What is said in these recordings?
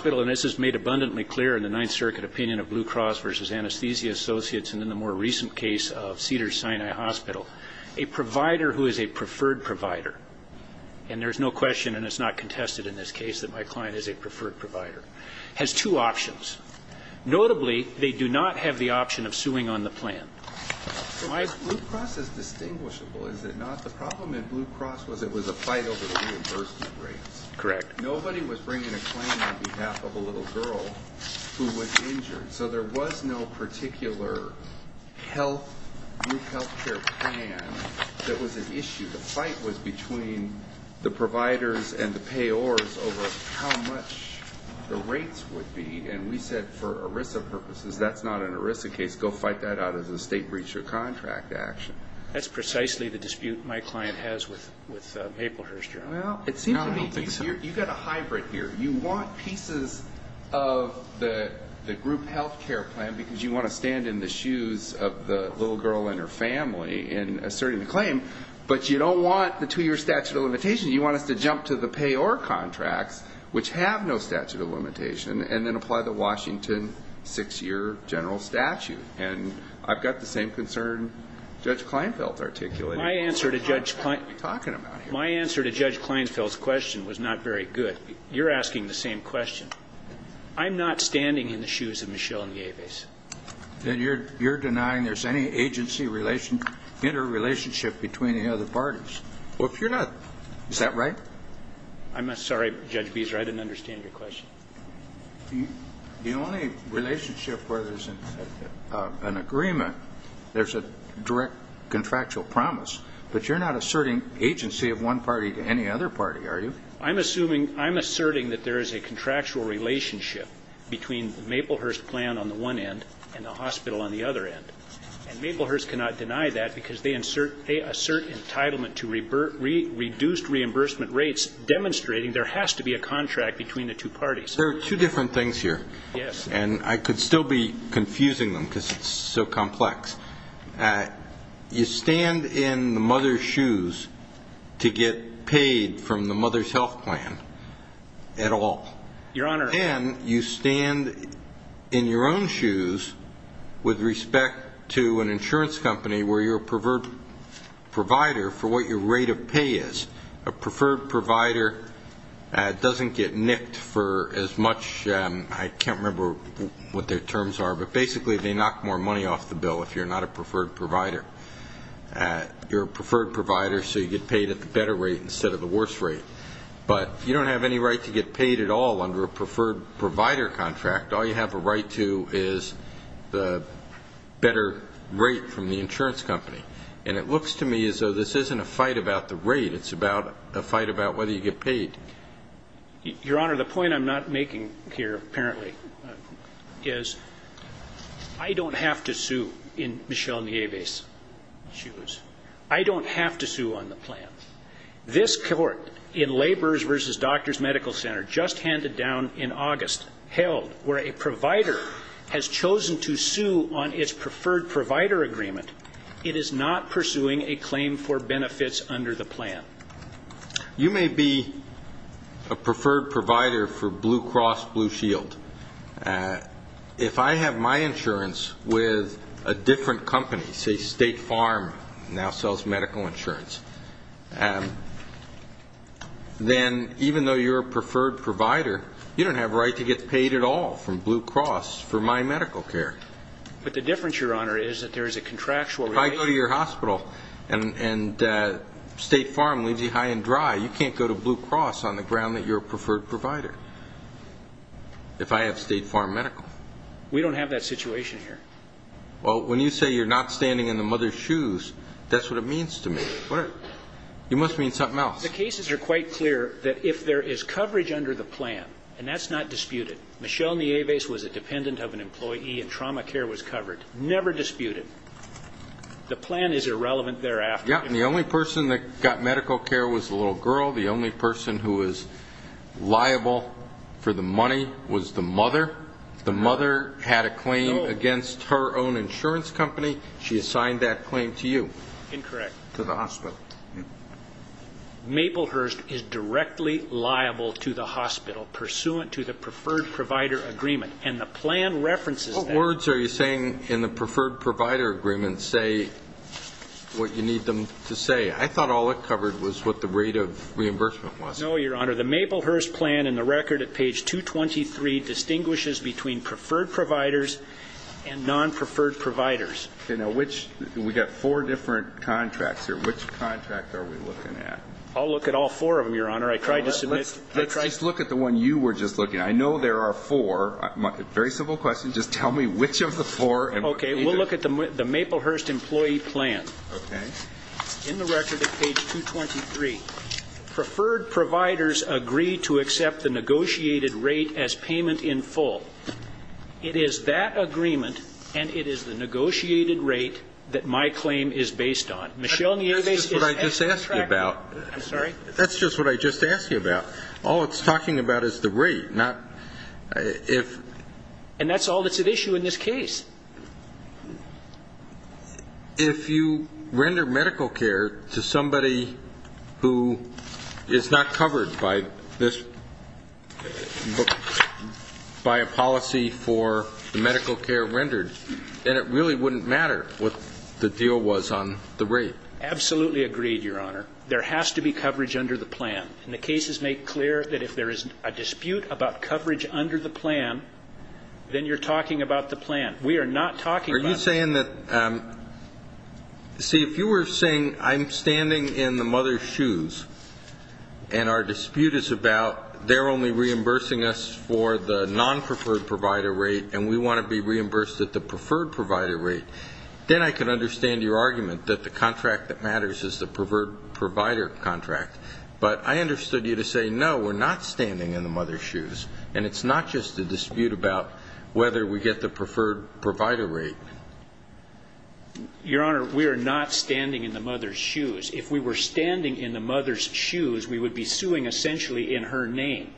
MAPLEHURST BAKERIES MAPLEHURST BAKERIES MAPLEHURST BAKERIES MAPLEHURST BAKERIES MAPLEHURST BAKERIES MAPLEHURST BAKERIES MAPLEHURST BAKERIES MAPLEHURST BAKERIES MAPLEHURST BAKERIES MAPLEHURST BAKERIES MAPLEHURST BAKERIES MAPLEHURST BAKERIES MAPLEHURST BAKERIES MAPLEHURST BAKERIES A provider who is a preferred provider, and there's no question and it's not contested in this case that my client is a preferred provider, has two options. Notably, they do not have the option of suing on the plan. So Blue Cross is distinguishable, is it not? The problem in Blue Cross was it was a fight over the reimbursement rates. Correct. Nobody was bringing a claim on behalf of a little girl who was injured. So there was no particular health care plan that was an issue. The fight was between the providers and the payors over how much the rates would be. And we said for ERISA purposes, that's not an ERISA case. Go fight that out as a state breach of contract action. That's precisely the dispute my client has with Maplehurst Journal. You've got a hybrid here. You want pieces of the group health care plan because you want to stand in the shoes of the little girl and her family in asserting the claim. But you don't want the two-year statute of limitations. You want us to jump to the payor contracts, which have no statute of limitations, and then apply the Washington six-year general statute. And I've got the same concern Judge Kleinfeld articulated. My answer to Judge Kleinfeld's question was not very good. You're asking the same question. I'm not standing in the shoes of Michelle Nieves. Then you're denying there's any agency interrelationship between the other parties. Well, if you're not, is that right? I'm sorry, Judge Beeser, I didn't understand your question. The only relationship where there's an agreement, there's a direct contractual promise. But you're not asserting agency of one party to any other party, are you? I'm asserting that there is a contractual relationship between Maplehurst plan on the one end and the hospital on the other end. And Maplehurst cannot deny that because they assert entitlement to reduced reimbursement rates, demonstrating there has to be a contract between the two parties. There are two different things here, and I could still be confusing them because it's so complex. You stand in the mother's shoes to get paid from the mother's health plan at all. Your Honor. And you stand in your own shoes with respect to an insurance company where you're a preferred provider for what your rate of pay is, a preferred provider doesn't get nicked for as much, I can't remember what their terms are, but basically they knock more money off the bill if you're not a preferred provider. You're a preferred provider, so you get paid at the better rate instead of the worse rate. But you don't have any right to get paid at all under a preferred provider contract. All you have a right to is the better rate from the insurance company. And it looks to me as though this isn't a fight about the rate. It's about a fight about whether you get paid. Your Honor, the point I'm not making here apparently is I don't have to sue in Michelle Nieves' shoes. I don't have to sue on the plan. This court in Laborers v. Doctors Medical Center just handed down in August, where a provider has chosen to sue on its preferred provider agreement, it is not pursuing a claim for benefits under the plan. You may be a preferred provider for Blue Cross Blue Shield. If I have my insurance with a different company, say State Farm now sells medical insurance, then even though you're a preferred provider, you don't have a right to get paid at all from Blue Cross for my medical care. But the difference, Your Honor, is that there is a contractual relation. If I go to your hospital and State Farm leaves you high and dry, you can't go to Blue Cross on the ground that you're a preferred provider if I have State Farm Medical. We don't have that situation here. Well, when you say you're not standing in the mother's shoes, that's what it means to me. You must mean something else. The cases are quite clear that if there is coverage under the plan, and that's not disputed, Michelle Nieves was a dependent of an employee and trauma care was covered, never disputed. The plan is irrelevant thereafter. Yeah, and the only person that got medical care was the little girl. The only person who was liable for the money was the mother. The mother had a claim against her own insurance company. She assigned that claim to you. Incorrect. To the hospital. Maplehurst is directly liable to the hospital pursuant to the preferred provider agreement, and the plan references that. What words are you saying in the preferred provider agreement say what you need them to say? I thought all it covered was what the rate of reimbursement was. No, Your Honor. Your Honor, the Maplehurst plan in the record at page 223 distinguishes between preferred providers and non-preferred providers. Okay. Now, we've got four different contracts here. Which contract are we looking at? I'll look at all four of them, Your Honor. I tried to submit. Let's look at the one you were just looking at. I know there are four. Very simple question. Just tell me which of the four. Okay. We'll look at the Maplehurst employee plan. Okay. In the record at page 223, preferred providers agree to accept the negotiated rate as payment in full. It is that agreement, and it is the negotiated rate that my claim is based on. Michelle Nieves is an contractor. That's just what I just asked you about. I'm sorry? That's just what I just asked you about. All it's talking about is the rate, not if. And that's all that's at issue in this case. If you render medical care to somebody who is not covered by this, by a policy for the medical care rendered, then it really wouldn't matter what the deal was on the rate. Absolutely agreed, Your Honor. There has to be coverage under the plan. And the cases make clear that if there is a dispute about coverage under the plan, then you're talking about the plan. We are not talking about the plan. Are you saying that, see, if you were saying I'm standing in the mother's shoes and our dispute is about they're only reimbursing us for the non-preferred provider rate and we want to be reimbursed at the preferred provider rate, then I can understand your argument that the contract that matters is the preferred provider contract. But I understood you to say, no, we're not standing in the mother's shoes, and it's not just a dispute about whether we get the preferred provider rate. Your Honor, we are not standing in the mother's shoes. If we were standing in the mother's shoes, we would be suing essentially in her name,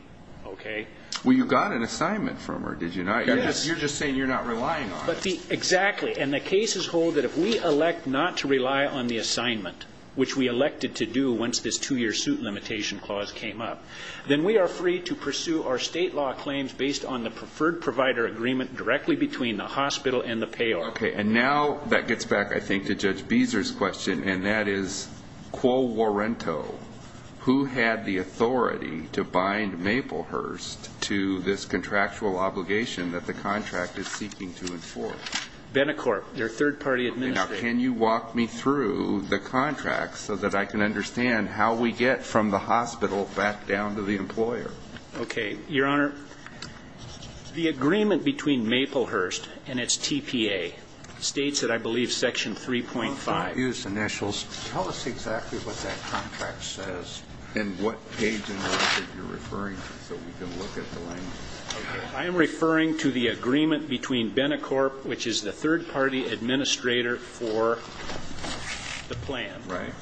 okay? Well, you got an assignment from her, did you not? Yes. You're just saying you're not relying on us. Exactly. And the cases hold that if we elect not to rely on the assignment, which we elected to do once this two-year suit limitation clause came up, then we are free to pursue our state law claims based on the preferred provider agreement directly between the hospital and the payor. Okay. And now that gets back, I think, to Judge Beeser's question, and that is, quo worento, who had the authority to bind Maplehurst to this contractual obligation that the contract is seeking to enforce? Benecorp, their third-party administrator. Now, can you walk me through the contract so that I can understand how we get from the hospital back down to the employer? Okay. Your Honor, the agreement between Maplehurst and its TPA states that I believe section 3.5. Well, if you don't use initials, tell us exactly what that contract says and what page in the record you're referring to so we can look at the language. I am referring to the agreement between Benecorp, which is the third-party administrator for the plan. Right.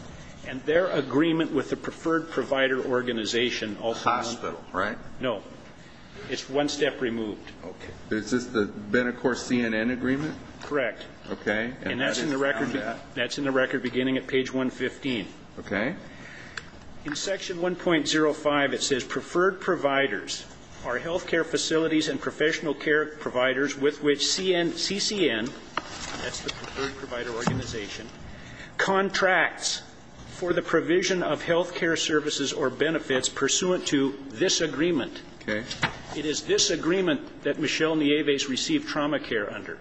And their agreement with the preferred provider organization. Hospital, right? No. It's one step removed. Okay. Is this the Benecorp CNN agreement? Correct. Okay. And that's in the record beginning at page 115. Okay. In section 1.05, it says, preferred providers are health care facilities and professional care providers with which CCN, that's the preferred provider organization, contracts for the provision of health care services or benefits pursuant to this agreement. Okay. It is this agreement that Michelle Nieves received trauma care under.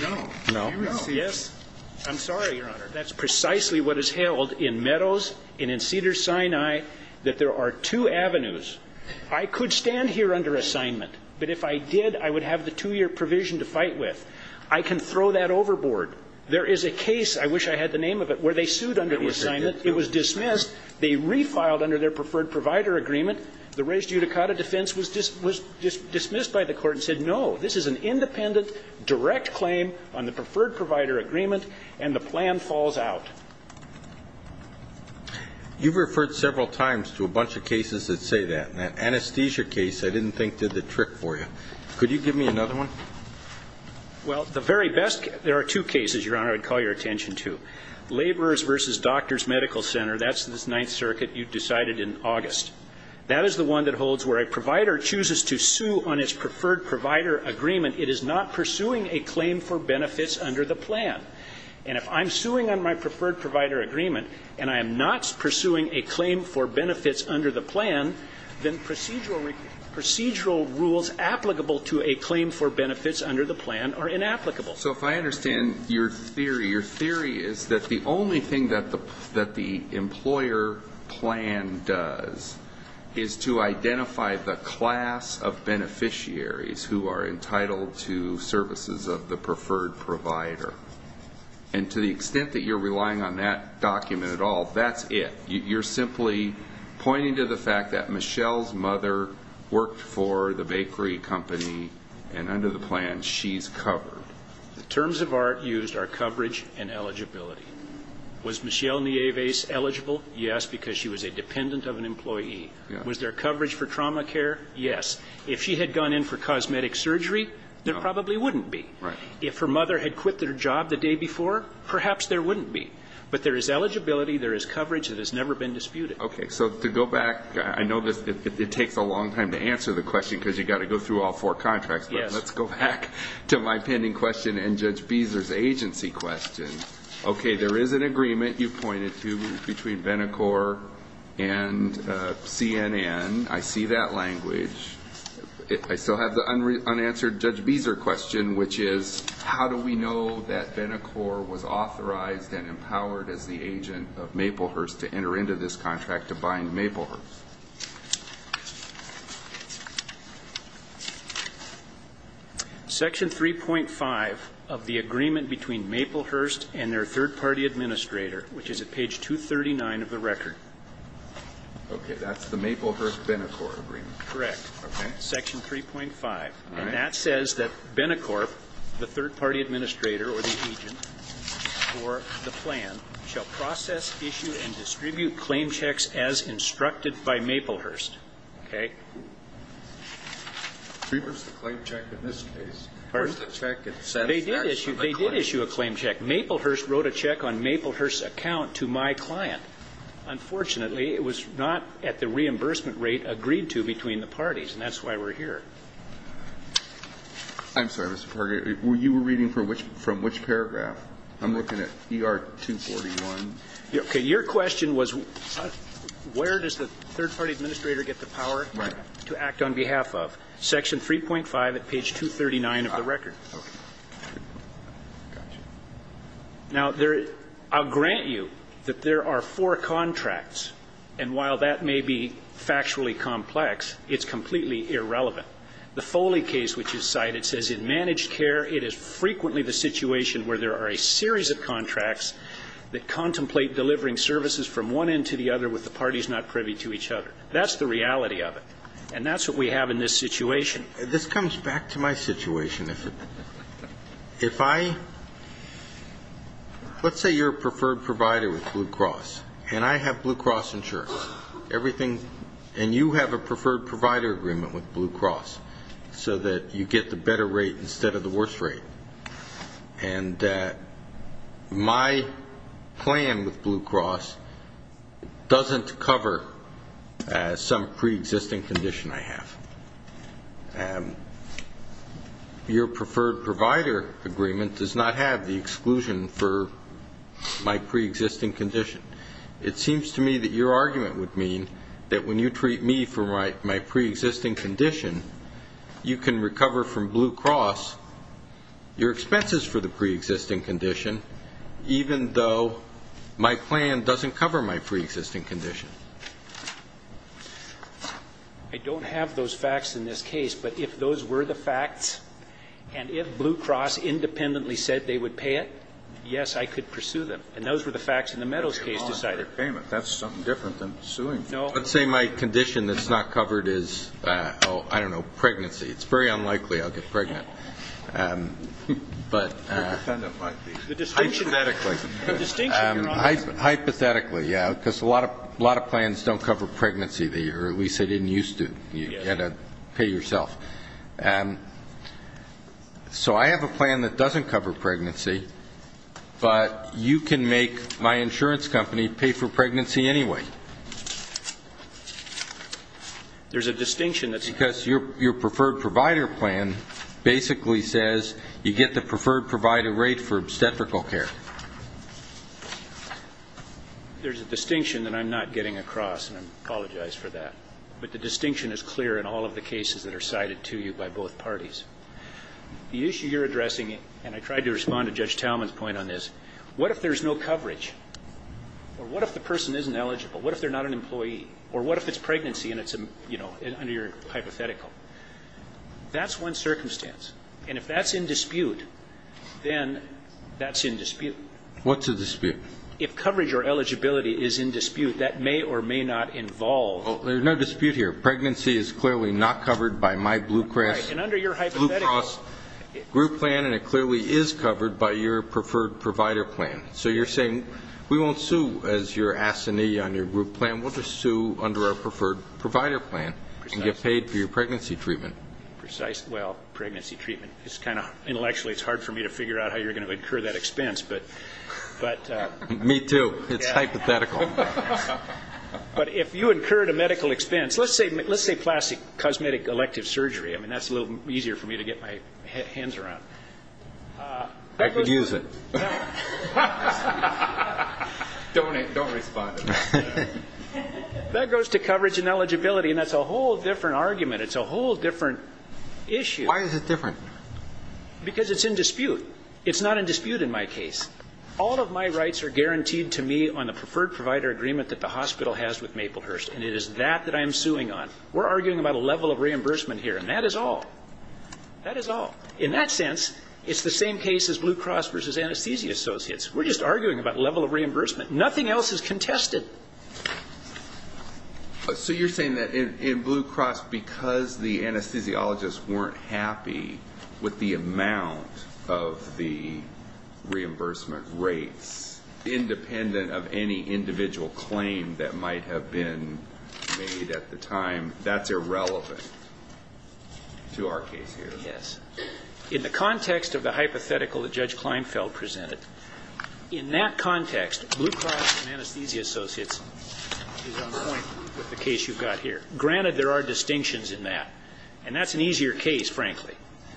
No. No. No. Yes. I'm sorry, Your Honor. That's precisely what is held in Meadows and in Cedars-Sinai, that there are two avenues. I could stand here under assignment. But if I did, I would have the two-year provision to fight with. I can throw that overboard. There is a case, I wish I had the name of it, where they sued under assignment. It was dismissed. They refiled under their preferred provider agreement. The res judicata defense was dismissed by the court and said, no, this is an independent, direct claim on the preferred provider agreement, and the plan falls out. You've referred several times to a bunch of cases that say that. That anesthesia case, I didn't think, did the trick for you. Could you give me another one? Well, the very best, there are two cases, Your Honor, I'd call your attention to. Laborers versus Doctors Medical Center, that's this Ninth Circuit you decided in August. That is the one that holds where a provider chooses to sue on its preferred provider agreement. It is not pursuing a claim for benefits under the plan. And if I'm suing on my preferred provider agreement and I am not pursuing a claim for benefits under the plan, then procedural rules applicable to a claim for benefits under the plan are inapplicable. So if I understand your theory, your theory is that the only thing that the employer plan does is to identify the class of beneficiaries who are entitled to services of the preferred provider. And to the extent that you're relying on that document at all, that's it. You're simply pointing to the fact that Michelle's mother worked for the bakery company, and under the plan she's covered. The terms of art used are coverage and eligibility. Was Michelle Nieves eligible? Yes, because she was a dependent of an employee. Was there coverage for trauma care? Yes. If she had gone in for cosmetic surgery, there probably wouldn't be. If her mother had quit their job the day before, perhaps there wouldn't be. But there is eligibility, there is coverage that has never been disputed. Okay, so to go back, I know it takes a long time to answer the question because you've got to go through all four contracts, but let's go back to my pending question and Judge Beezer's agency question. Okay, there is an agreement, you pointed to, between Benecor and CNN. I see that language. I still have the unanswered Judge Beezer question, which is how do we know that Benecor was authorized and empowered as the agent of Maplehurst to enter into this contract to bind Maplehurst? Section 3.5 of the agreement between Maplehurst and their third-party administrator, which is at page 239 of the record. Okay, that's the Maplehurst-Benecor agreement. Correct. Okay. Section 3.5. And that says that Benecor, the third-party administrator or the agent for the plan, shall process, issue, and distribute claim checks as instructed by Maplehurst. Okay? We issued a claim check in this case. Pardon? We issued a check that says that's actually a claim check. They did issue a claim check. Maplehurst wrote a check on Maplehurst's account to my client. Unfortunately, it was not at the reimbursement rate agreed to between the parties, and that's why we're here. I'm sorry, Mr. Parker. You were reading from which paragraph? I'm looking at ER 241. Okay. Your question was where does the third-party administrator get the power to act on behalf of? Section 3.5 at page 239 of the record. Now, I'll grant you that there are four contracts, and while that may be factually complex, it's completely irrelevant. The Foley case which is cited says in managed care it is frequently the situation where there are a series of contracts that contemplate delivering services from one end to the other with the parties not privy to each other. That's the reality of it. And that's what we have in this situation. This comes back to my situation. If I let's say you're a preferred provider with Blue Cross, and I have Blue Cross insurance, and you have a preferred provider agreement with Blue Cross so that you get the better rate instead of the worst rate, and my plan with Blue Cross doesn't cover some preexisting condition I have. Your preferred provider agreement does not have the exclusion for my preexisting condition. It seems to me that your argument would mean that when you treat me for my preexisting condition, you can recover from Blue Cross your expenses for the preexisting condition, even though my plan doesn't cover my preexisting condition. I don't have those facts in this case, but if those were the facts and if Blue Cross independently said they would pay it, yes, I could pursue them. And those were the facts in the Meadows case decided. That's something different than suing. No. Let's say my condition that's not covered is, oh, I don't know, pregnancy. It's very unlikely I'll get pregnant. But hypothetically. Hypothetically, yeah. Because a lot of plans don't cover pregnancy, or at least they didn't used to. You've got to pay yourself. So I have a plan that doesn't cover pregnancy, but you can make my insurance company pay for pregnancy anyway. There's a distinction. Because your preferred provider plan basically says you get the preferred provider rate for obstetrical care. There's a distinction that I'm not getting across, and I apologize for that. But the distinction is clear in all of the cases that are cited to you by both parties. The issue you're addressing, and I tried to respond to Judge Talman's point on this, what if there's no coverage? Or what if the person isn't eligible? What if they're not an employee? Or what if it's pregnancy and it's under your hypothetical? That's one circumstance. And if that's in dispute, then that's in dispute. What's in dispute? If coverage or eligibility is in dispute, that may or may not involve. There's no dispute here. Pregnancy is clearly not covered by my Blue Cross group plan, and it clearly is covered by your preferred provider plan. So you're saying we won't sue as your assignee on your group plan. We'll just sue under our preferred provider plan and get paid for your pregnancy treatment. Well, pregnancy treatment. Intellectually, it's hard for me to figure out how you're going to incur that expense. Me too. It's hypothetical. But if you incurred a medical expense, let's say plastic cosmetic elective surgery. I mean, that's a little easier for me to get my hands around. I could use it. Don't respond to that. That goes to coverage and eligibility, and that's a whole different argument. It's a whole different issue. Why is it different? Because it's in dispute. It's not in dispute in my case. All of my rights are guaranteed to me on the preferred provider agreement that the hospital has with Maplehurst, and it is that that I am suing on. We're arguing about a level of reimbursement here, and that is all. That is all. In that sense, it's the same case as Blue Cross versus Anesthesia Associates. We're just arguing about level of reimbursement. Nothing else is contested. So you're saying that in Blue Cross, because the anesthesiologists weren't happy with the amount of the reimbursement rates, independent of any individual claim that might have been made at the time, that's irrelevant to our case here. Yes. In the context of the hypothetical that Judge Kleinfeld presented, in that context, Blue Cross and Anesthesia Associates is on point with the case you've got here. Granted, there are distinctions in that, and that's an easier case, frankly.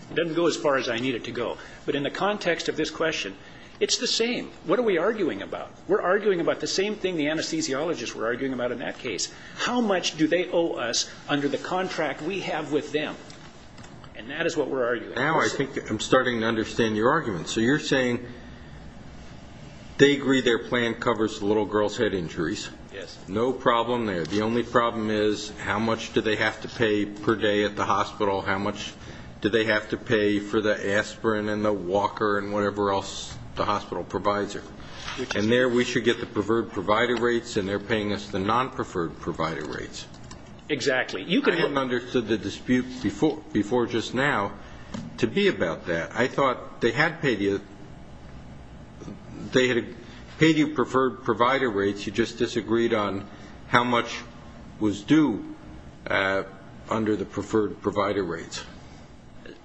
It doesn't go as far as I need it to go. But in the context of this question, it's the same. What are we arguing about? We're arguing about the same thing the anesthesiologists were arguing about in that case. How much do they owe us under the contract we have with them? And that is what we're arguing. Now I think I'm starting to understand your argument. So you're saying they agree their plan covers the little girls' head injuries. Yes. No problem there. The only problem is how much do they have to pay per day at the hospital? How much do they have to pay for the aspirin and the walker and whatever else the hospital provides them? And there we should get the preferred provider rates, and they're paying us the non-preferred provider rates. Exactly. I hadn't understood the dispute before just now to be about that. I thought they had paid you preferred provider rates. You just disagreed on how much was due under the preferred provider rates.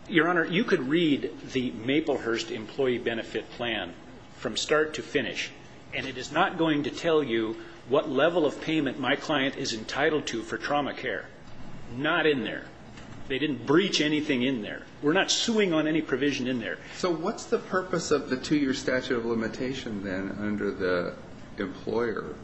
Your Honor, you could read the Maplehurst employee benefit plan from start to finish, and it is not going to tell you what level of payment my client is entitled to for trauma care. Not in there. They didn't breach anything in there. We're not suing on any provision in there. So what's the purpose of the two-year statute of limitation then under the employer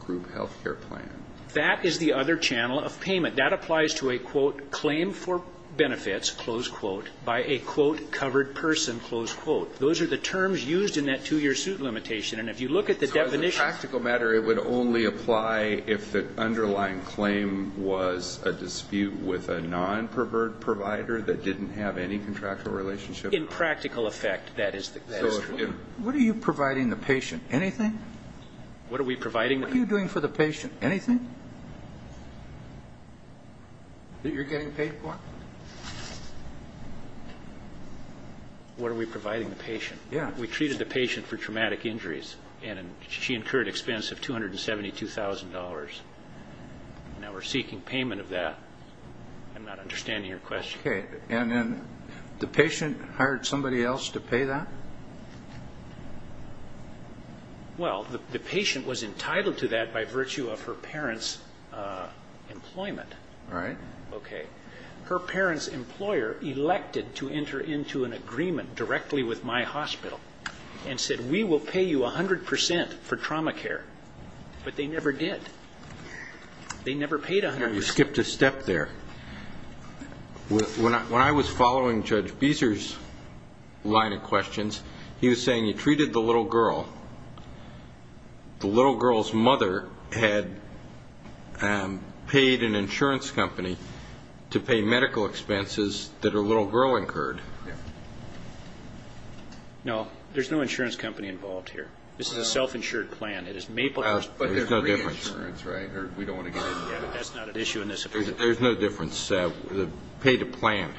group health care plan? That is the other channel of payment. That applies to a, quote, claim for benefits, close quote, by a, quote, covered person, close quote. Those are the terms used in that two-year suit limitation. And if you look at the definitions. In a practical matter, it would only apply if the underlying claim was a dispute with a non-preferred provider that didn't have any contractual relationship. In practical effect, that is true. What are you providing the patient? Anything? What are we providing? What are you doing for the patient? Anything that you're getting paid for? What are we providing the patient? Yeah. We treated the patient for traumatic injuries. And she incurred expense of $272,000. Now we're seeking payment of that. I'm not understanding your question. Okay. And then the patient hired somebody else to pay that? Well, the patient was entitled to that by virtue of her parents' employment. Right. Okay. Her parents' employer elected to enter into an agreement directly with my hospital and said, we will pay you 100% for trauma care. But they never did. They never paid 100%. You skipped a step there. When I was following Judge Beeser's line of questions, he was saying you treated the little girl. The little girl's mother had paid an insurance company to pay medical expenses that her little girl incurred. No. There's no insurance company involved here. This is a self-insured plan. It is made by us. But there's free insurance, right? Or we don't want to get into that. That's not an issue in this application. There's no difference. They paid a plan.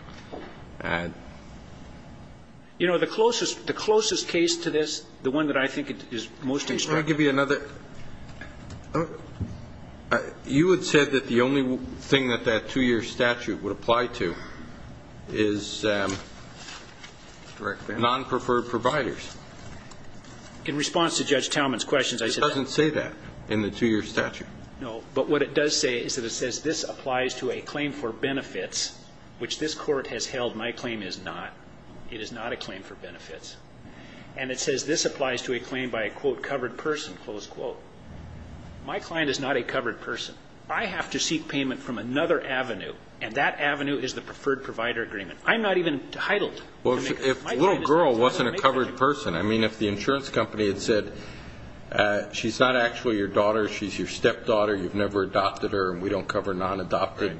You know, the closest case to this, the one that I think is most instructive. Can I give you another? You had said that the only thing that that two-year statute would apply to is non-preferred providers. In response to Judge Talman's questions, I said that. It doesn't say that in the two-year statute. No. But what it does say is that it says this applies to a claim for benefits, which this court has held my claim is not. It is not a claim for benefits. And it says this applies to a claim by a, quote, covered person, close quote. My client is not a covered person. I have to seek payment from another avenue, and that avenue is the preferred provider agreement. I'm not even titled. Well, if the little girl wasn't a covered person, I mean, if the insurance company had said, she's not actually your daughter, she's your stepdaughter, you've never adopted her, and we don't cover non-adopted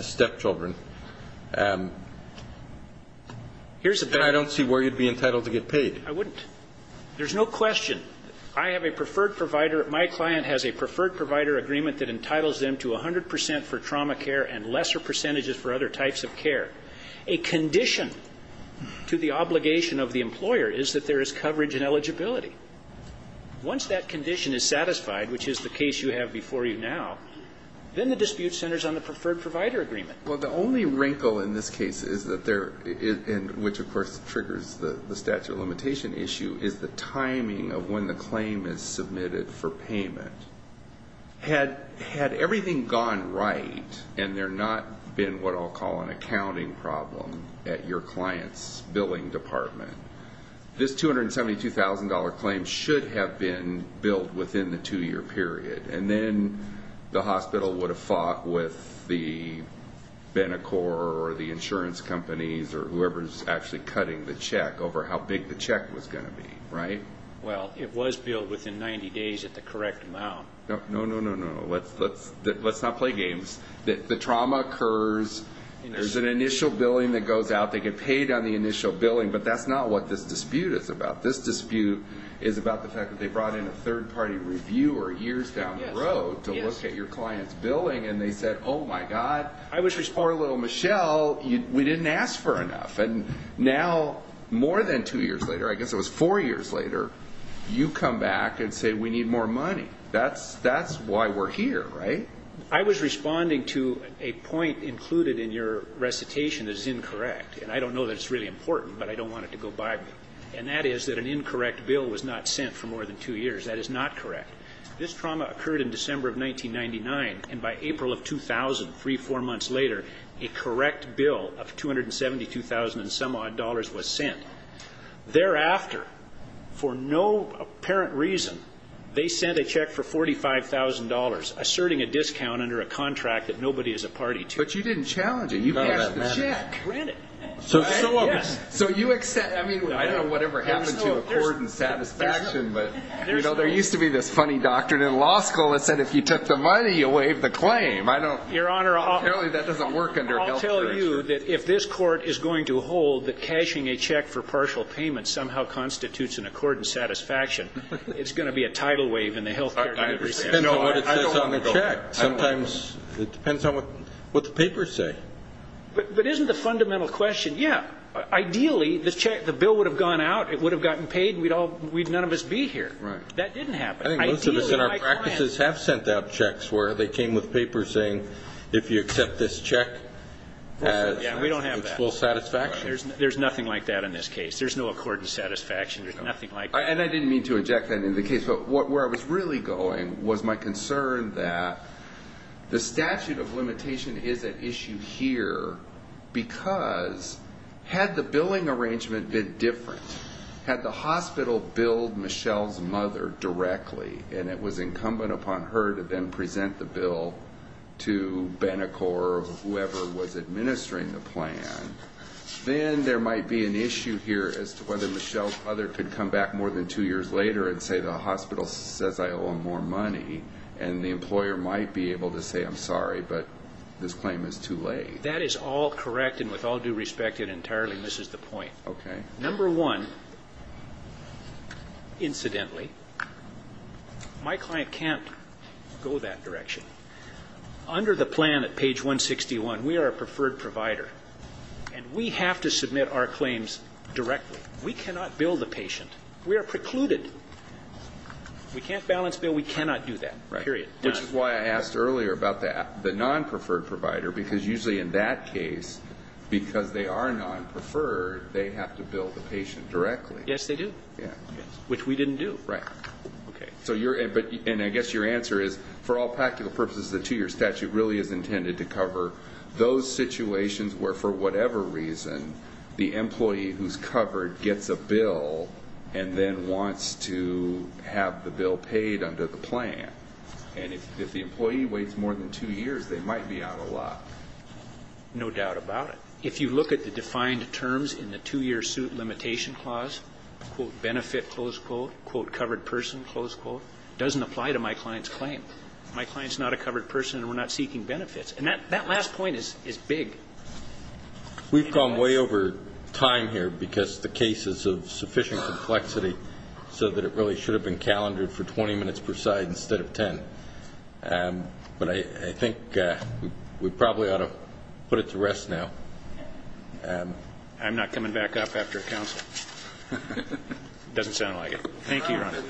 stepchildren, then I don't see where you'd be entitled to get paid. I wouldn't. There's no question. I have a preferred provider. My client has a preferred provider agreement that entitles them to 100 percent for trauma care and lesser percentages for other types of care. A condition to the obligation of the employer is that there is coverage and eligibility. Once that condition is satisfied, which is the case you have before you now, then the dispute centers on the preferred provider agreement. Well, the only wrinkle in this case is that there is, and which, of course, triggers the statute of limitation issue, is the timing of when the claim is submitted for payment. Had everything gone right and there not been what I'll call an accounting problem at your client's billing department, this $272,000 claim should have been billed within the two-year period, and then the hospital would have fought with the Benecor or the insurance companies or whoever is actually cutting the check over how big the check was going to be, right? Well, it was billed within 90 days at the correct amount. No, no, no, no, no. Let's not play games. The trauma occurs. There's an initial billing that goes out. They get paid on the initial billing, but that's not what this dispute is about. This dispute is about the fact that they brought in a third-party reviewer years down the road to look at your client's billing, and they said, oh, my God, poor little Michelle, we didn't ask for enough. And now more than two years later, I guess it was four years later, you come back and say we need more money. That's why we're here, right? I was responding to a point included in your recitation that is incorrect, and I don't know that it's really important, but I don't want it to go by me, and that is that an incorrect bill was not sent for more than two years. That is not correct. This trauma occurred in December of 1999, and by April of 2000, three, four months later, a correct bill of $272,000-and-some-odd dollars was sent. Thereafter, for no apparent reason, they sent a check for $45,000, asserting a discount under a contract that nobody is a party to. But you didn't challenge it. You passed the check. Granted. So you accept. I mean, I don't know whatever happened to accord and satisfaction, but there used to be this funny doctrine in law school that said if you took the money, you waived the claim. Your Honor, I'll tell you that doesn't work under health care. I'll tell you that if this court is going to hold that cashing a check for partial payments somehow constitutes an accord and satisfaction, it's going to be a tidal wave in the health care delivery system. I don't agree. Sometimes it depends on what the papers say. But isn't the fundamental question, yeah, ideally the bill would have gone out, it would have gotten paid, and none of us would be here. That didn't happen. I think most of us in our practices have sent out checks where they came with papers saying, if you accept this check, it's full satisfaction. There's nothing like that in this case. There's no accord and satisfaction. There's nothing like that. And I didn't mean to inject that into the case, but where I was really going was my concern that the statute of limitation is at issue here because had the billing arrangement been different, had the hospital billed Michelle's mother directly, and it was incumbent upon her to then present the bill to Benacor or whoever was administering the plan, then there might be an issue here as to whether Michelle's mother could come back more than two years later and say the hospital says I owe them more money, and the employer might be able to say, I'm sorry, but this claim is too late. That is all correct, and with all due respect, it entirely misses the point. Number one, incidentally, my client can't go that direction. Under the plan at page 161, we are a preferred provider, and we have to submit our claims directly. We cannot bill the patient. We are precluded. We can't balance bill. We cannot do that, period. Which is why I asked earlier about the non-preferred provider, because usually in that case, because they are non-preferred, they have to bill the patient directly. Yes, they do, which we didn't do. Right. Okay. And I guess your answer is, for all practical purposes, the two-year statute really is intended to cover those situations where, for whatever reason, the employee who's covered gets a bill and then wants to have the bill paid under the plan. And if the employee waits more than two years, they might be out a lot. No doubt about it. If you look at the defined terms in the two-year suit limitation clause, quote, benefit, close quote, quote, covered person, close quote, it doesn't apply to my client's claim. My client's not a covered person, and we're not seeking benefits. And that last point is big. We've gone way over time here because the case is of sufficient complexity so that it really should have been calendared for 20 minutes per side instead of 10. But I think we probably ought to put it to rest now. I'm not coming back up after a counsel. Doesn't sound like it. Thank you, Your Honor.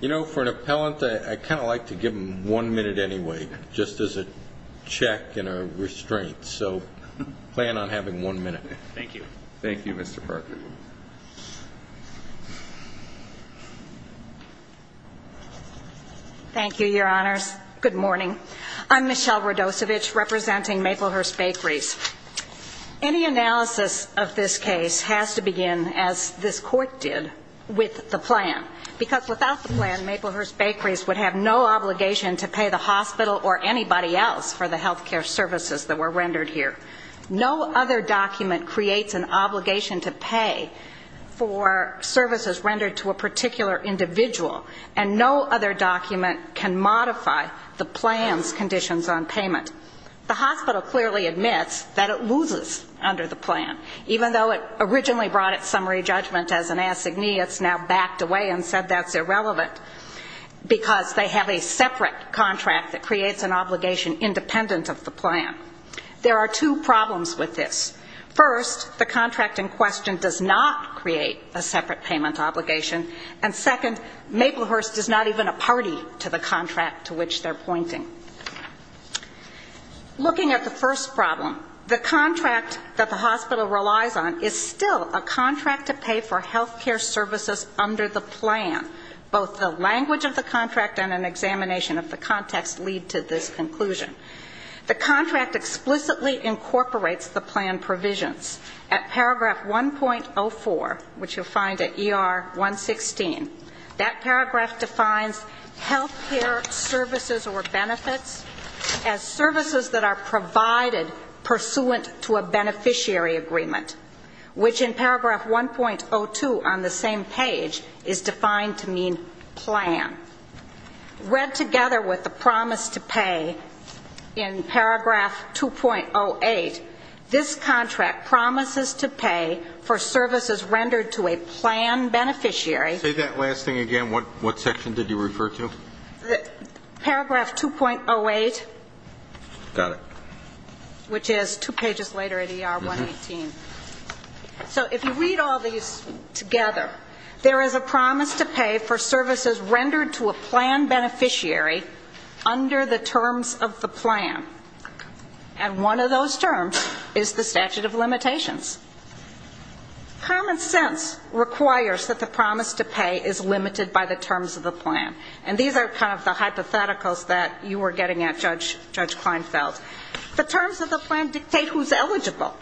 You know, for an appellant, I kind of like to give them one minute anyway, just as a check and a restraint. So plan on having one minute. Thank you. Thank you, Mr. Parker. Thank you, Your Honors. Good morning. I'm Michelle Radosevich representing Maplehurst Bakeries. Any analysis of this case has to begin, as this Court did, with the plan. Because without the plan, Maplehurst Bakeries would have no obligation to pay the hospital or anybody else for the health care services that were rendered here. No other document creates an obligation to pay for services rendered to a particular individual, and no other document can modify the plan's conditions on payment. The hospital clearly admits that it loses under the plan, even though it originally brought it summary judgment as an assignee. It's now backed away and said that's irrelevant because they have a separate contract that creates an obligation independent of the plan. There are two problems with this. First, the contract in question does not create a separate payment obligation, and second, Maplehurst is not even a party to the contract to which they're pointing. Looking at the first problem, the contract that the hospital relies on is still a contract to pay for health care services under the plan. Both the language of the contract and an examination of the context lead to this conclusion. The contract explicitly incorporates the plan provisions. At paragraph 1.04, which you'll find at ER 116, that paragraph defines health care services or benefits as services that are provided pursuant to a beneficiary agreement, which in paragraph 1.02 on the same page is defined to mean plan. Read together with the promise to pay in paragraph 2.08, this contract promises to pay for services rendered to a plan beneficiary. Say that last thing again. What section did you refer to? Paragraph 2.08. Got it. Which is two pages later at ER 118. So if you read all these together, there is a promise to pay for services rendered to a plan beneficiary under the terms of the plan, and one of those terms is the statute of limitations. Common sense requires that the promise to pay is limited by the terms of the plan, and these are kind of the hypotheticals that you were getting at, Judge Kleinfeld. The terms of the plan dictate who's eligible.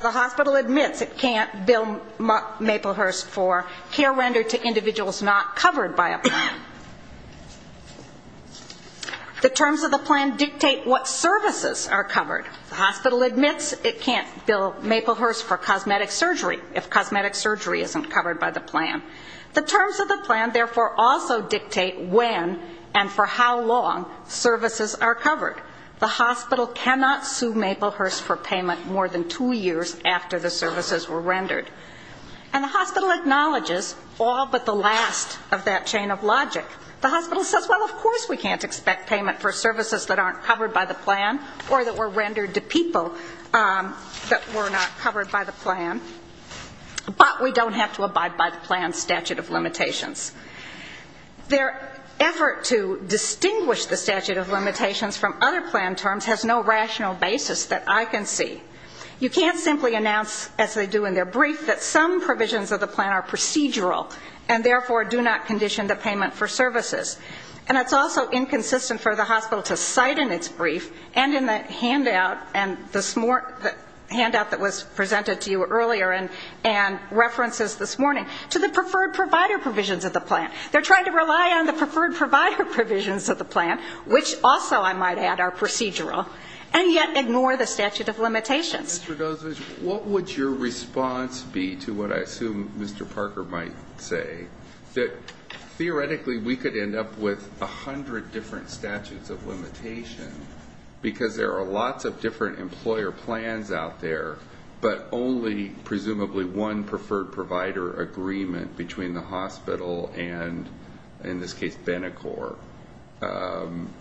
The hospital admits it can't bill Maplehurst for care rendered to individuals not covered by a plan. The terms of the plan dictate what services are covered. The hospital admits it can't bill Maplehurst for cosmetic surgery if cosmetic surgery isn't covered by the plan. The terms of the plan therefore also dictate when and for how long services are covered. The hospital cannot sue Maplehurst for payment more than two years after the services were rendered. And the hospital acknowledges all but the last of that chain of logic. The hospital says, well, of course we can't expect payment for services that aren't covered by the plan or that were rendered to people that were not covered by the plan, but we don't have to abide by the plan's statute of limitations. Their effort to distinguish the statute of limitations from other plan terms has no rational basis that I can see. You can't simply announce, as they do in their brief, that some provisions of the plan are procedural and therefore do not condition the payment for services. And it's also inconsistent for the hospital to cite in its brief and in the handout that was presented to you earlier and references this morning to the preferred provider provisions of the plan. They're trying to rely on the preferred provider provisions of the plan, which also, I might add, are procedural, and yet ignore the statute of limitations. Mr. Gosevich, what would your response be to what I assume Mr. Parker might say, that theoretically we could end up with 100 different statutes of limitation because there are lots of different employer plans out there, but only presumably one preferred provider agreement between the hospital and, in this case, Benicor.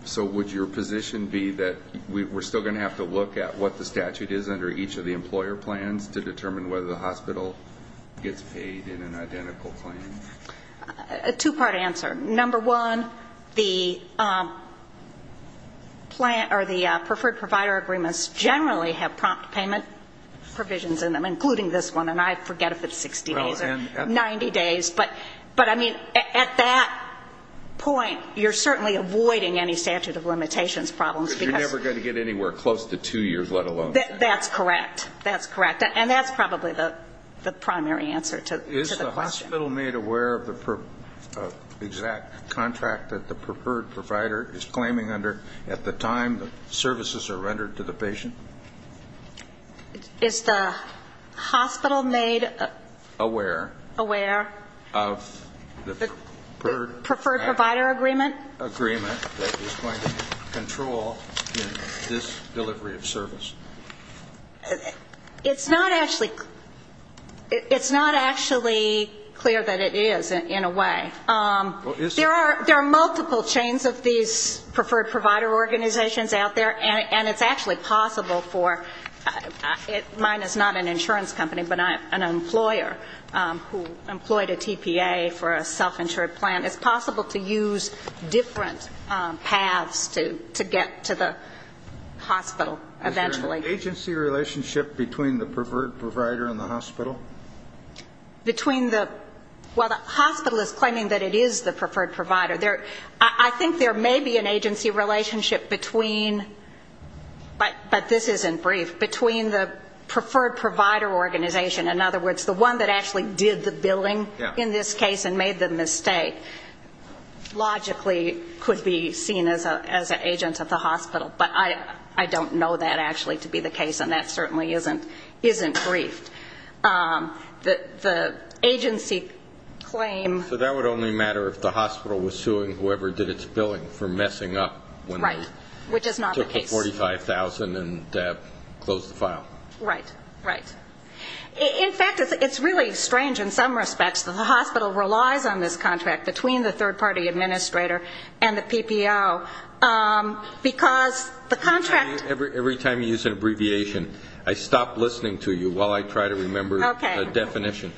So would your position be that we're still going to have to look at what the statute is under each of the employer plans to determine whether the hospital gets paid in an identical plan? A two-part answer. Number one, the preferred provider agreements generally have prompt payment provisions in them, including this one. And I forget if it's 60 days or 90 days. But, I mean, at that point, you're certainly avoiding any statute of limitations problems. Because you're never going to get anywhere close to two years, let alone three. That's correct, that's correct. And that's probably the primary answer to the question. Is the hospital made aware of the exact contract that the preferred provider is claiming under at the time the services are rendered to the patient? Is the hospital made... It's not actually clear that it is, in a way. There are multiple chains of these preferred provider organizations out there, and it's actually possible for, mine is not an insurance company, but an employer who employed a TPA for a self-insured plan. It's possible to use different paths to get to the hospital eventually. Is there an agency relationship between the preferred provider and the hospital? Between the... Well, the hospital is claiming that it is the preferred provider. I think there may be an agency relationship between, but this isn't brief, between the preferred provider organization. In other words, the one that actually did the billing in this case and made the mistake. Logically could be seen as an agent at the hospital, but I don't know that actually to be the case, and that certainly isn't briefed. The agency claim... So that would only matter if the hospital was suing whoever did its billing for messing up when they took the $45,000 and closed the file. Right. In fact, it's really strange in some respects that the hospital relies on this contract between the third-party administrator and the PPO, because the contract... Every time you use an abbreviation, I stop listening to you while I try to remember the definition.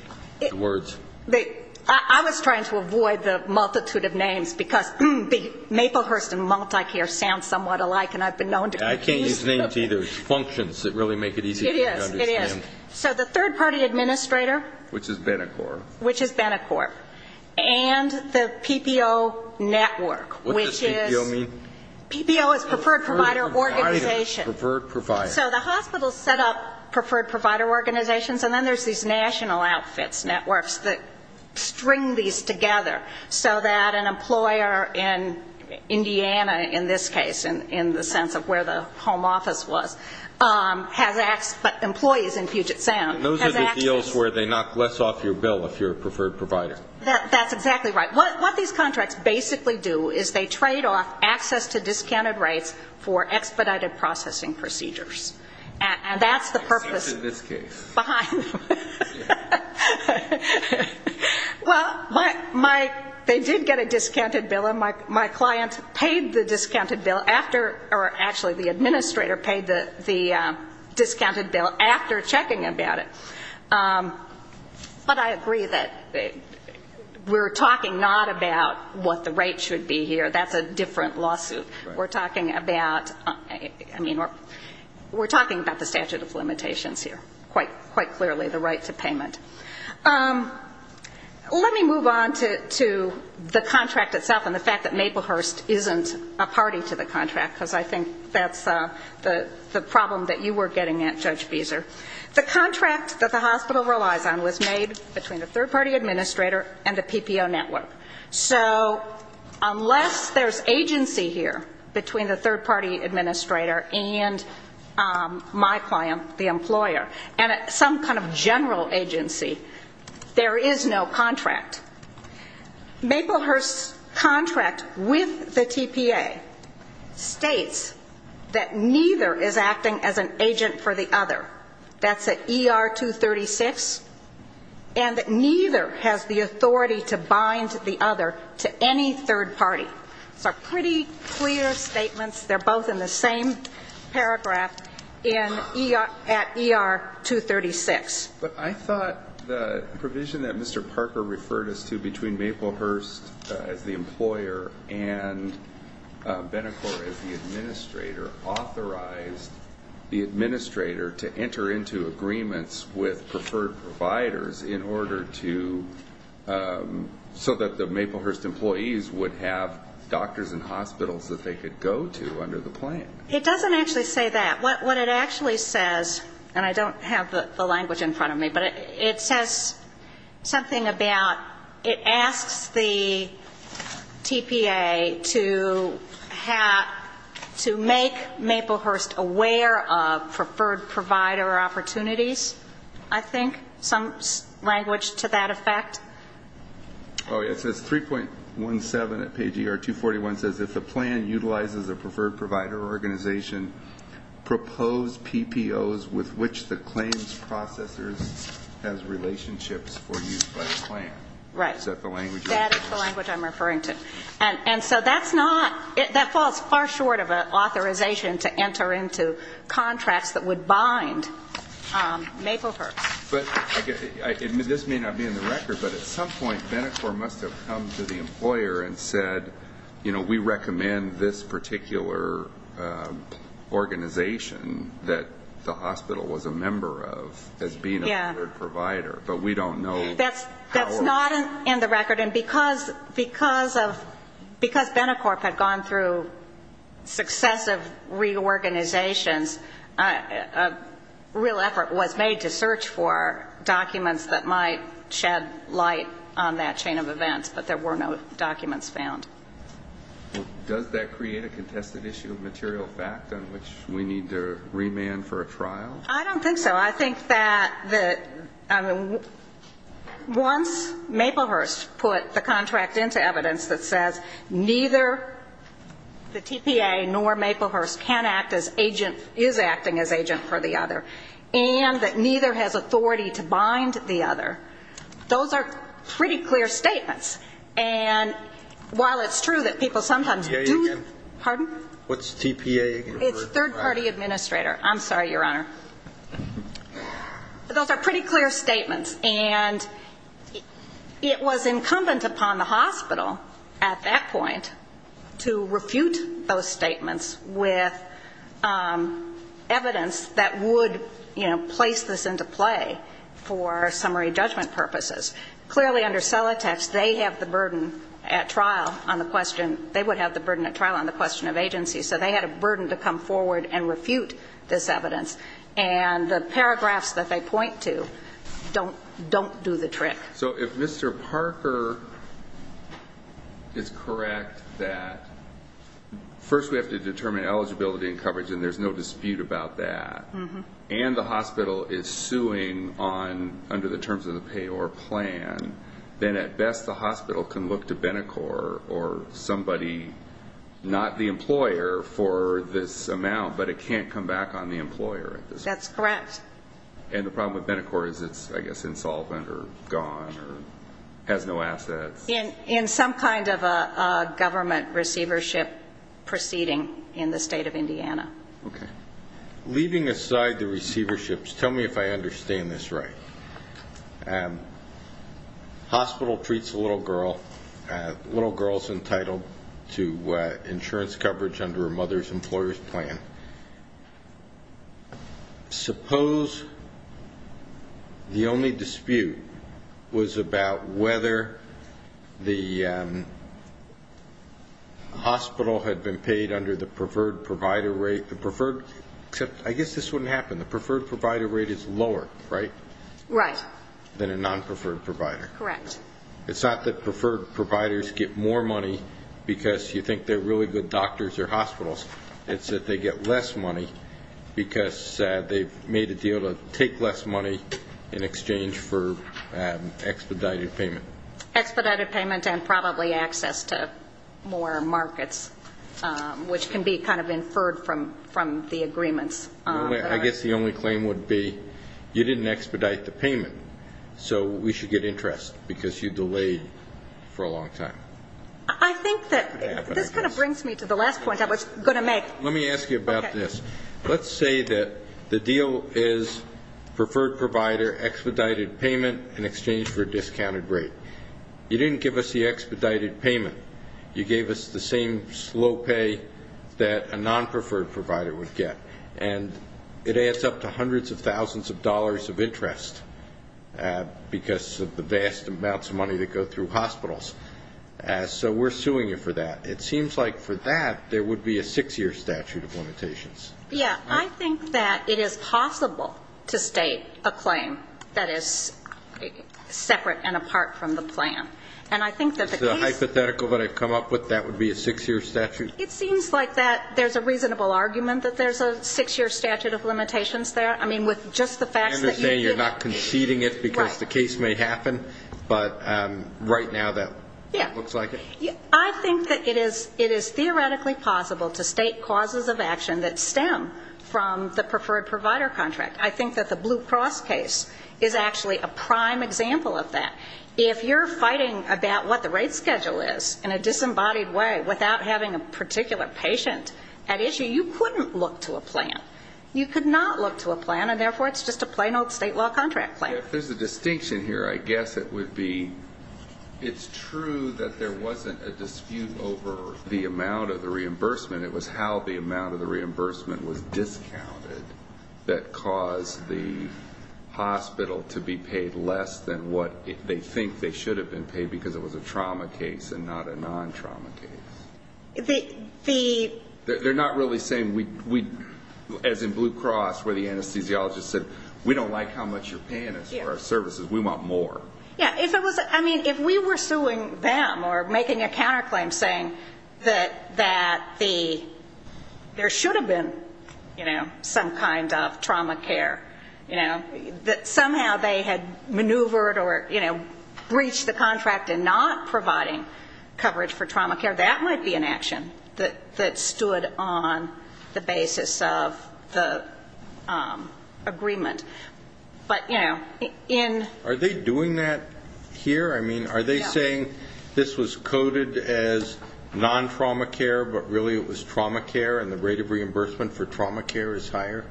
I was trying to avoid the multitude of names, because Maplehurst and MultiCare sound somewhat alike, and I've been known to confuse them. I can't use names either. It's functions that really make it easy for me to understand. It is. So the third-party administrator... Which is Benacorp. Which is Benacorp. And the PPO network, which is... And then there's these national outfits networks that string these together, so that an employer in Indiana, in this case, in the sense of where the home office was, has access... But employees in Puget Sound... Those are the deals where they knock less off your bill if you're a preferred provider. That's exactly right. What these contracts basically do is they trade off access to discounted rates for expedited processing procedures. And that's the purpose behind them. Well, they did get a discounted bill, and my client paid the discounted bill after... Actually, the administrator paid the discounted bill after checking about it. But I agree that we're talking not about what the rate should be here. That's a different lawsuit. We're talking about the statute of limitations here, quite clearly, the right to payment. Let me move on to the contract itself and the fact that Maplehurst isn't a party to the contract, because I think that's the problem that you were getting at, Judge Beeser. The contract that the hospital relies on was made between the third-party administrator and the PPO network. So unless there's agency here between the third-party administrator and my client, the employer, and some kind of general agency, there is no contract. Maplehurst's contract with the TPA states that neither is acting as an agent for the other. That's at ER 236. And neither has the authority to bind the other to any third-party. These are pretty clear statements. They're both in the same paragraph at ER 236. But I thought the provision that Mr. Parker referred us to between Maplehurst as the employer and Benacor as the administrator authorized the administrator to enter into agreements with preferred providers in order to so that the Maplehurst employees would have doctors and hospitals that they could go to under the plan. It doesn't actually say that. What it actually says, and I don't have the language in front of me, but it says something about, you know, the TPA to make Maplehurst aware of preferred provider opportunities, I think. Some language to that effect. Oh, it says 3.17 at page ER 241 says if the plan utilizes a preferred provider organization, propose PPOs with which the claims processor has relationships for use by the plan. Is that the language you're referring to? That falls far short of an authorization to enter into contracts that would bind Maplehurst. This may not be in the record, but at some point Benacor must have come to the employer and said, you know, we recommend this particular organization that the hospital was a member of as being a preferred provider. But we don't know. That's not in the record, and because Benacorp had gone through successive reorganizations, a real effort was made to search for documents that might shed light on that chain of events, but there were no documents found. Does that create a contested issue of material fact on which we need to remand for a trial? I don't think so. I think that once Maplehurst put the contract into evidence that says neither the TPA nor Maplehurst can act as agent is acting as agent for the other, and that neither has authority to bind the other, those are pretty clear statements. And while it's true that people sometimes do What's TPA again? It's third-party administrator. I'm sorry, Your Honor. Those are pretty clear statements, and it was incumbent upon the hospital at that point to refute those statements with evidence that would, you know, place this into play for summary judgment purposes. Clearly under Celotax, they have the burden at trial on the question of agency, so they had a burden to come up with and come forward and refute this evidence, and the paragraphs that they point to don't do the trick. So if Mr. Parker is correct that first we have to determine eligibility and coverage, and there's no dispute about that, and the hospital is suing under the terms of the payor plan, then at best the hospital can look to Benecor or somebody, not the employer, for this amount, but it can't come back on the employer at this point. That's correct. And the problem with Benecor is it's, I guess, insolvent or gone or has no assets. In some kind of a government receivership proceeding in the state of Indiana. Okay. Putting aside the receiverships, tell me if I understand this right. Hospital treats a little girl, little girl's entitled to insurance coverage under a mother's employer's plan. Suppose the only dispute was about whether the hospital had been paid under the preferred provider rate, the preferred, except I guess this wouldn't happen, the preferred provider rate is lower, right? Right. Than a non-preferred provider. Correct. It's not that preferred providers get more money because you think they're really good doctors or hospitals, it's that they get less money because they've made a deal to take less money in exchange for expedited payment. Expedited payment and probably access to more markets, which can be kind of inferred from the agreements. I guess the only claim would be you didn't expedite the payment, so we should get interest because you delayed for a long time. I think that this kind of brings me to the last point I was going to make. Let me ask you about this. Let's say that the deal is preferred provider, expedited payment in exchange for a discounted rate. You didn't give us the expedited payment, you gave us the same slow pay that a non-preferred provider would get. And it adds up to hundreds of thousands of dollars of interest because of the vast amounts of money that go through hospitals. So we're suing you for that. It seems like for that, there would be a six-year statute of limitations. Yeah, I think that it is possible to state a claim that is separate and apart from the plan. And I think that the case the hypothetical that I've come up with, that would be a six-year statute? It seems like that there's a reasonable argument that there's a six-year statute of limitations there. I understand you're not conceding it because the case may happen, but right now that looks like it? I think that it is theoretically possible to state causes of action that stem from the preferred provider contract. I think that the Blue Cross case is actually a prime example of that. If you're fighting about what the rate schedule is in a disembodied way without having a particular patient at issue, you couldn't look to a plan. You could not look to a plan, and therefore it's just a plain old state law contract plan. If there's a distinction here, I guess it would be it's true that there wasn't a dispute over the amount of the reimbursement. It was how the amount of the reimbursement was discounted that caused the hospital to be paid less than what they think they should have been paid because it was a trauma case and not a non-trauma case. They're not really saying, as in Blue Cross where the anesthesiologist said, we don't like how much you're paying us for our services. We want more. If we were suing them or making a counterclaim saying that there should have been some kind of trauma care, that somehow they had maneuvered or breached the contract in not providing coverage for trauma care, that might be true. That might be an action that stood on the basis of the agreement. But, you know, in... Are they doing that here? I mean, are they saying this was coded as non-trauma care, but really it was trauma care and the rate of reimbursement for trauma care is higher?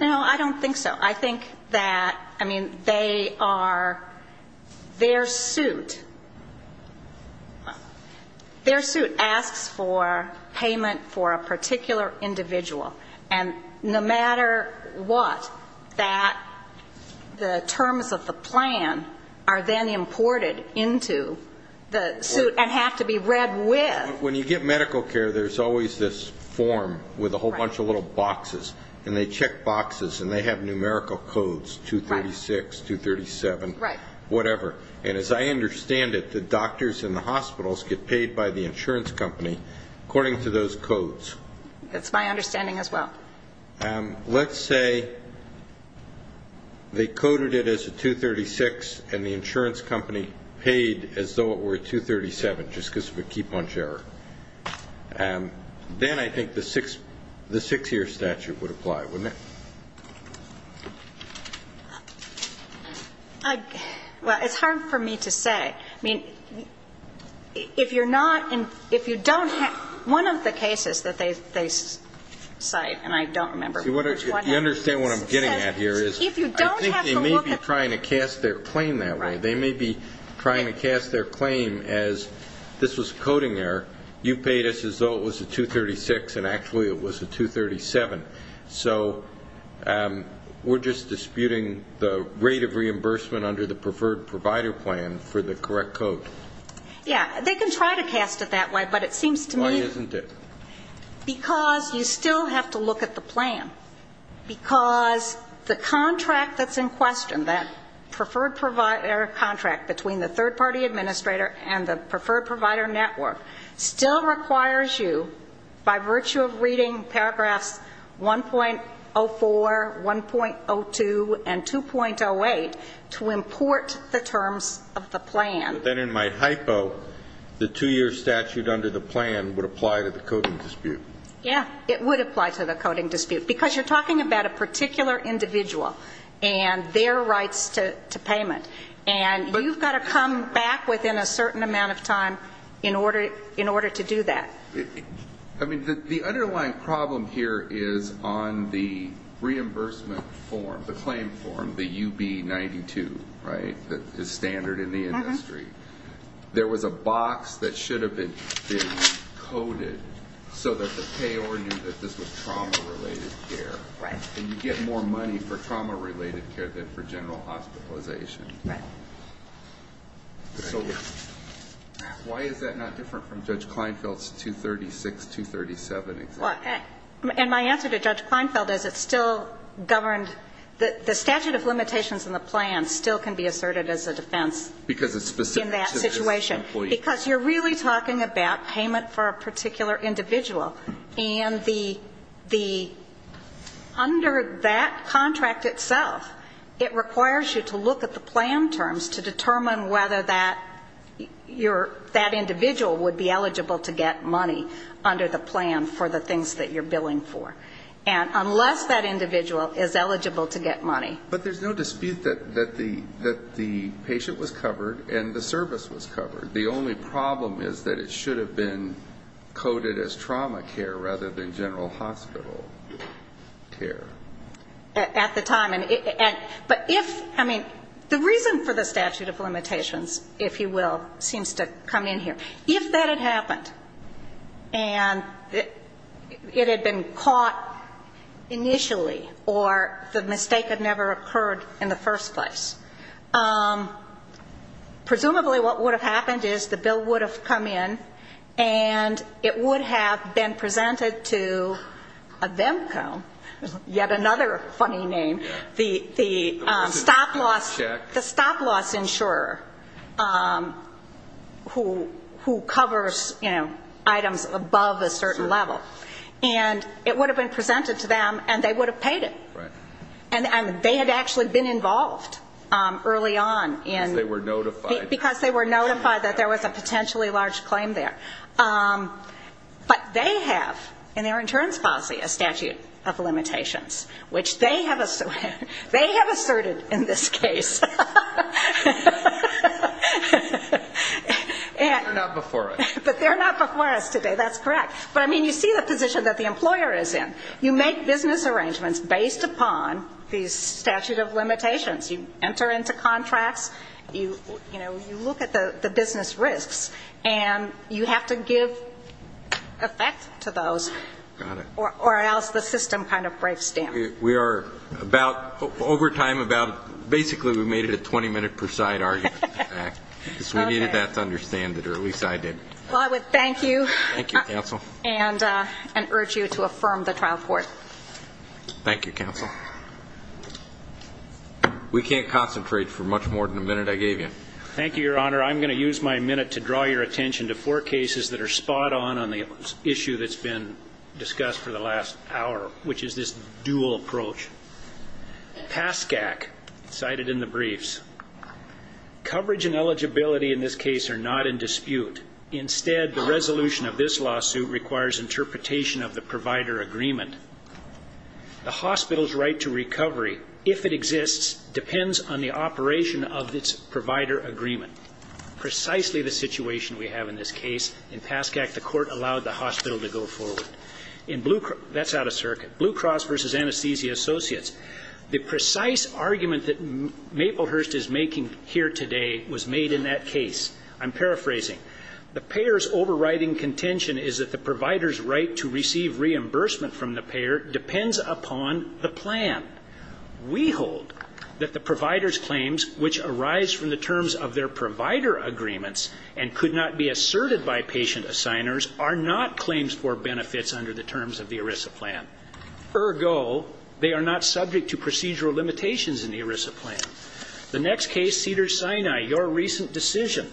No, I don't think so. I think that, I mean, they are their suit. Their suit asks for payment for a particular individual. And no matter what, the terms of the plan are then imported into the suit and have to be read with. When you get medical care, there's always this form with a whole bunch of little boxes. And they check boxes and they have numerical codes, 236, 237, whatever. And as I understand it, the doctors in the hospitals get paid by the insurance company according to those codes. That's my understanding as well. Let's say they coded it as a 236 and the insurance company paid as though it were a 237, just because of a key punch error. Then I think the six-year statute would apply, wouldn't it? Well, it's hard for me to say. I mean, if you're not, if you don't have, one of the cases that they cite, and I don't remember which one. You understand what I'm getting at here is I think they may be trying to cast their claim that way. They may be trying to cast their claim as this was coding error. You paid us as though it was a 236 and actually it was a 237. So we're just disputing the rate of reimbursement under the preferred provider plan for the correct code. Yeah, they can try to cast it that way, but it seems to me... Why isn't it? Because you still have to look at the plan. Because the contract that's in question, that preferred provider contract between the third-party administrator and the preferred provider network, is 1.04, 1.02, and 2.08 to import the terms of the plan. Then in my hypo, the two-year statute under the plan would apply to the coding dispute. Yeah, it would apply to the coding dispute, because you're talking about a particular individual and their rights to payment. And you've got to come back within a certain amount of time in order to do that. I mean, the underlying problem here is on the reimbursement form, the claim form, the UB-92, right, that is standard in the industry. There was a box that should have been coded so that the payor knew that this was trauma-related care. And you get more money for trauma-related care than for general hospitalization. So why is that not different from Judge Kleinfeld's 236, 237 example? And my answer to Judge Kleinfeld is it still governed the statute of limitations in the plan still can be asserted as a defense in that situation. Because it's specific to this employee. Because you're really talking about payment for a particular individual. And the under that contract itself, it requires you to look at the plan terms to determine whether that individual would be eligible to get money under the plan for the things that you're billing for. And unless that individual is eligible to get money. But there's no dispute that the patient was covered and the service was covered. The only problem is that it should have been coded as trauma care rather than general hospital care. At the time. But if, I mean, the reason for the statute of limitations, if you will, seems to come in here. If that had happened, and it had been caught initially, or the mistake had never occurred in the first place, presumably what would have happened is the bill would have come in and it would have been presented to a VEMCO. Yet another funny name. The stop loss insurer who covers items above a certain level. And it would have been presented to them and they would have paid it. And they had actually been involved early on. Because they were notified that there was a potentially large claim there. But they have in their insurance policy a statute of limitations, which they have asserted in this case. But they're not before us today, that's correct. But, I mean, you see the position that the employer is in. You make business arrangements based upon these statute of limitations. You enter into contracts. You look at the business risks. And you have to give effect to those, or else the system kind of breaks down. We are about, over time, about, basically we made it a 20-minute per side argument. Because we needed that to understand it, or at least I did. Well, I would thank you and urge you to affirm the trial court. Thank you, counsel. We can't concentrate for much more than the minute I gave you. Thank you, Your Honor, I'm going to use my minute to draw your attention to four cases that are spot on on the issue that's been discussed for the last hour, which is this dual approach. PASCAC, cited in the briefs. Coverage and eligibility in this case are not in dispute. Instead, the resolution of this lawsuit requires interpretation of the provider agreement. The hospital's right to recovery, if it exists, depends on the operation of its provider agreement. Precisely the situation we have in this case. In PASCAC, the court allowed the hospital to go forward. That's out of circuit. Blue Cross versus Anesthesia Associates. The precise argument that Maplehurst is making here today was made in that case. I'm paraphrasing. The payer's overriding contention is that the provider's right to receive reimbursement from the payer depends upon the plan. We hold that the provider's claims, which arise from the terms of their provider agreements and could not be asserted by patient assigners, are not claims for benefits under the terms of the ERISA plan. Ergo, they are not subject to procedural limitations in the ERISA plan. The next case, Cedars-Sinai, your recent decision.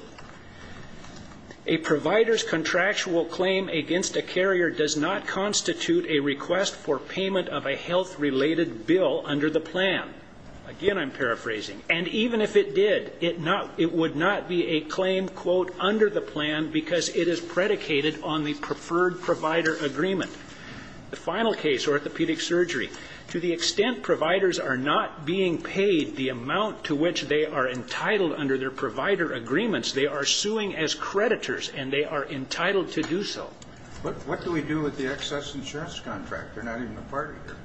A provider's contractual claim against a carrier does not constitute a request for payment of a health-related bill under the plan. Again, I'm paraphrasing. And even if it did, it would not be a claim, quote, under the plan because it is predicated on the preferred provider agreement. The final case, orthopedic surgery. To the extent providers are not being paid the amount to which they are entitled under their provider agreements, they are suing as creditors, and they are entitled to do so. What do we do with the excess insurance contract? They're not even a party here.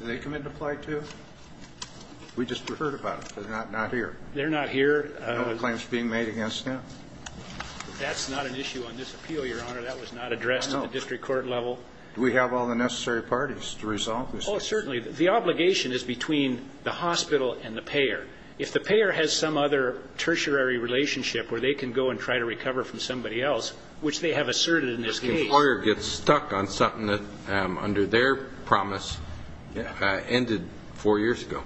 Do they commit to apply too? We just heard about it. They're not here. No claims are being made against them. That's not an issue on this appeal, Your Honor. That was not addressed at the district court level. Do we have all the necessary parties to resolve this? Oh, certainly. The obligation is between the hospital and the payer. If the payer has some other tertiary relationship where they can go and try to recover from somebody else, which they have asserted in this case. But the employer gets stuck on something that, under their promise, ended four years ago.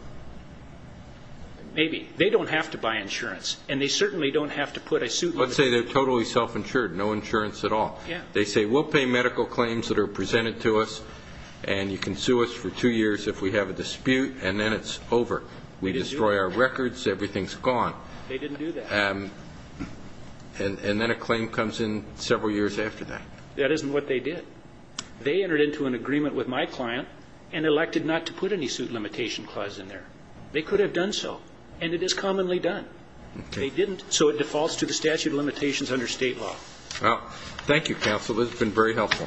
Maybe. They don't have to buy insurance. Let's say they're totally self-insured, no insurance at all. They say, we'll pay medical claims that are presented to us, and you can sue us for two years if we have a dispute, and then it's over. We destroy our records, everything's gone. And then a claim comes in several years after that. That isn't what they did. They entered into an agreement with my client and elected not to put any suit limitation clause in there. They could have done so, and it is commonly done. They didn't, so it defaults to the statute of limitations under state law. Well, thank you, counsel. This has been very helpful.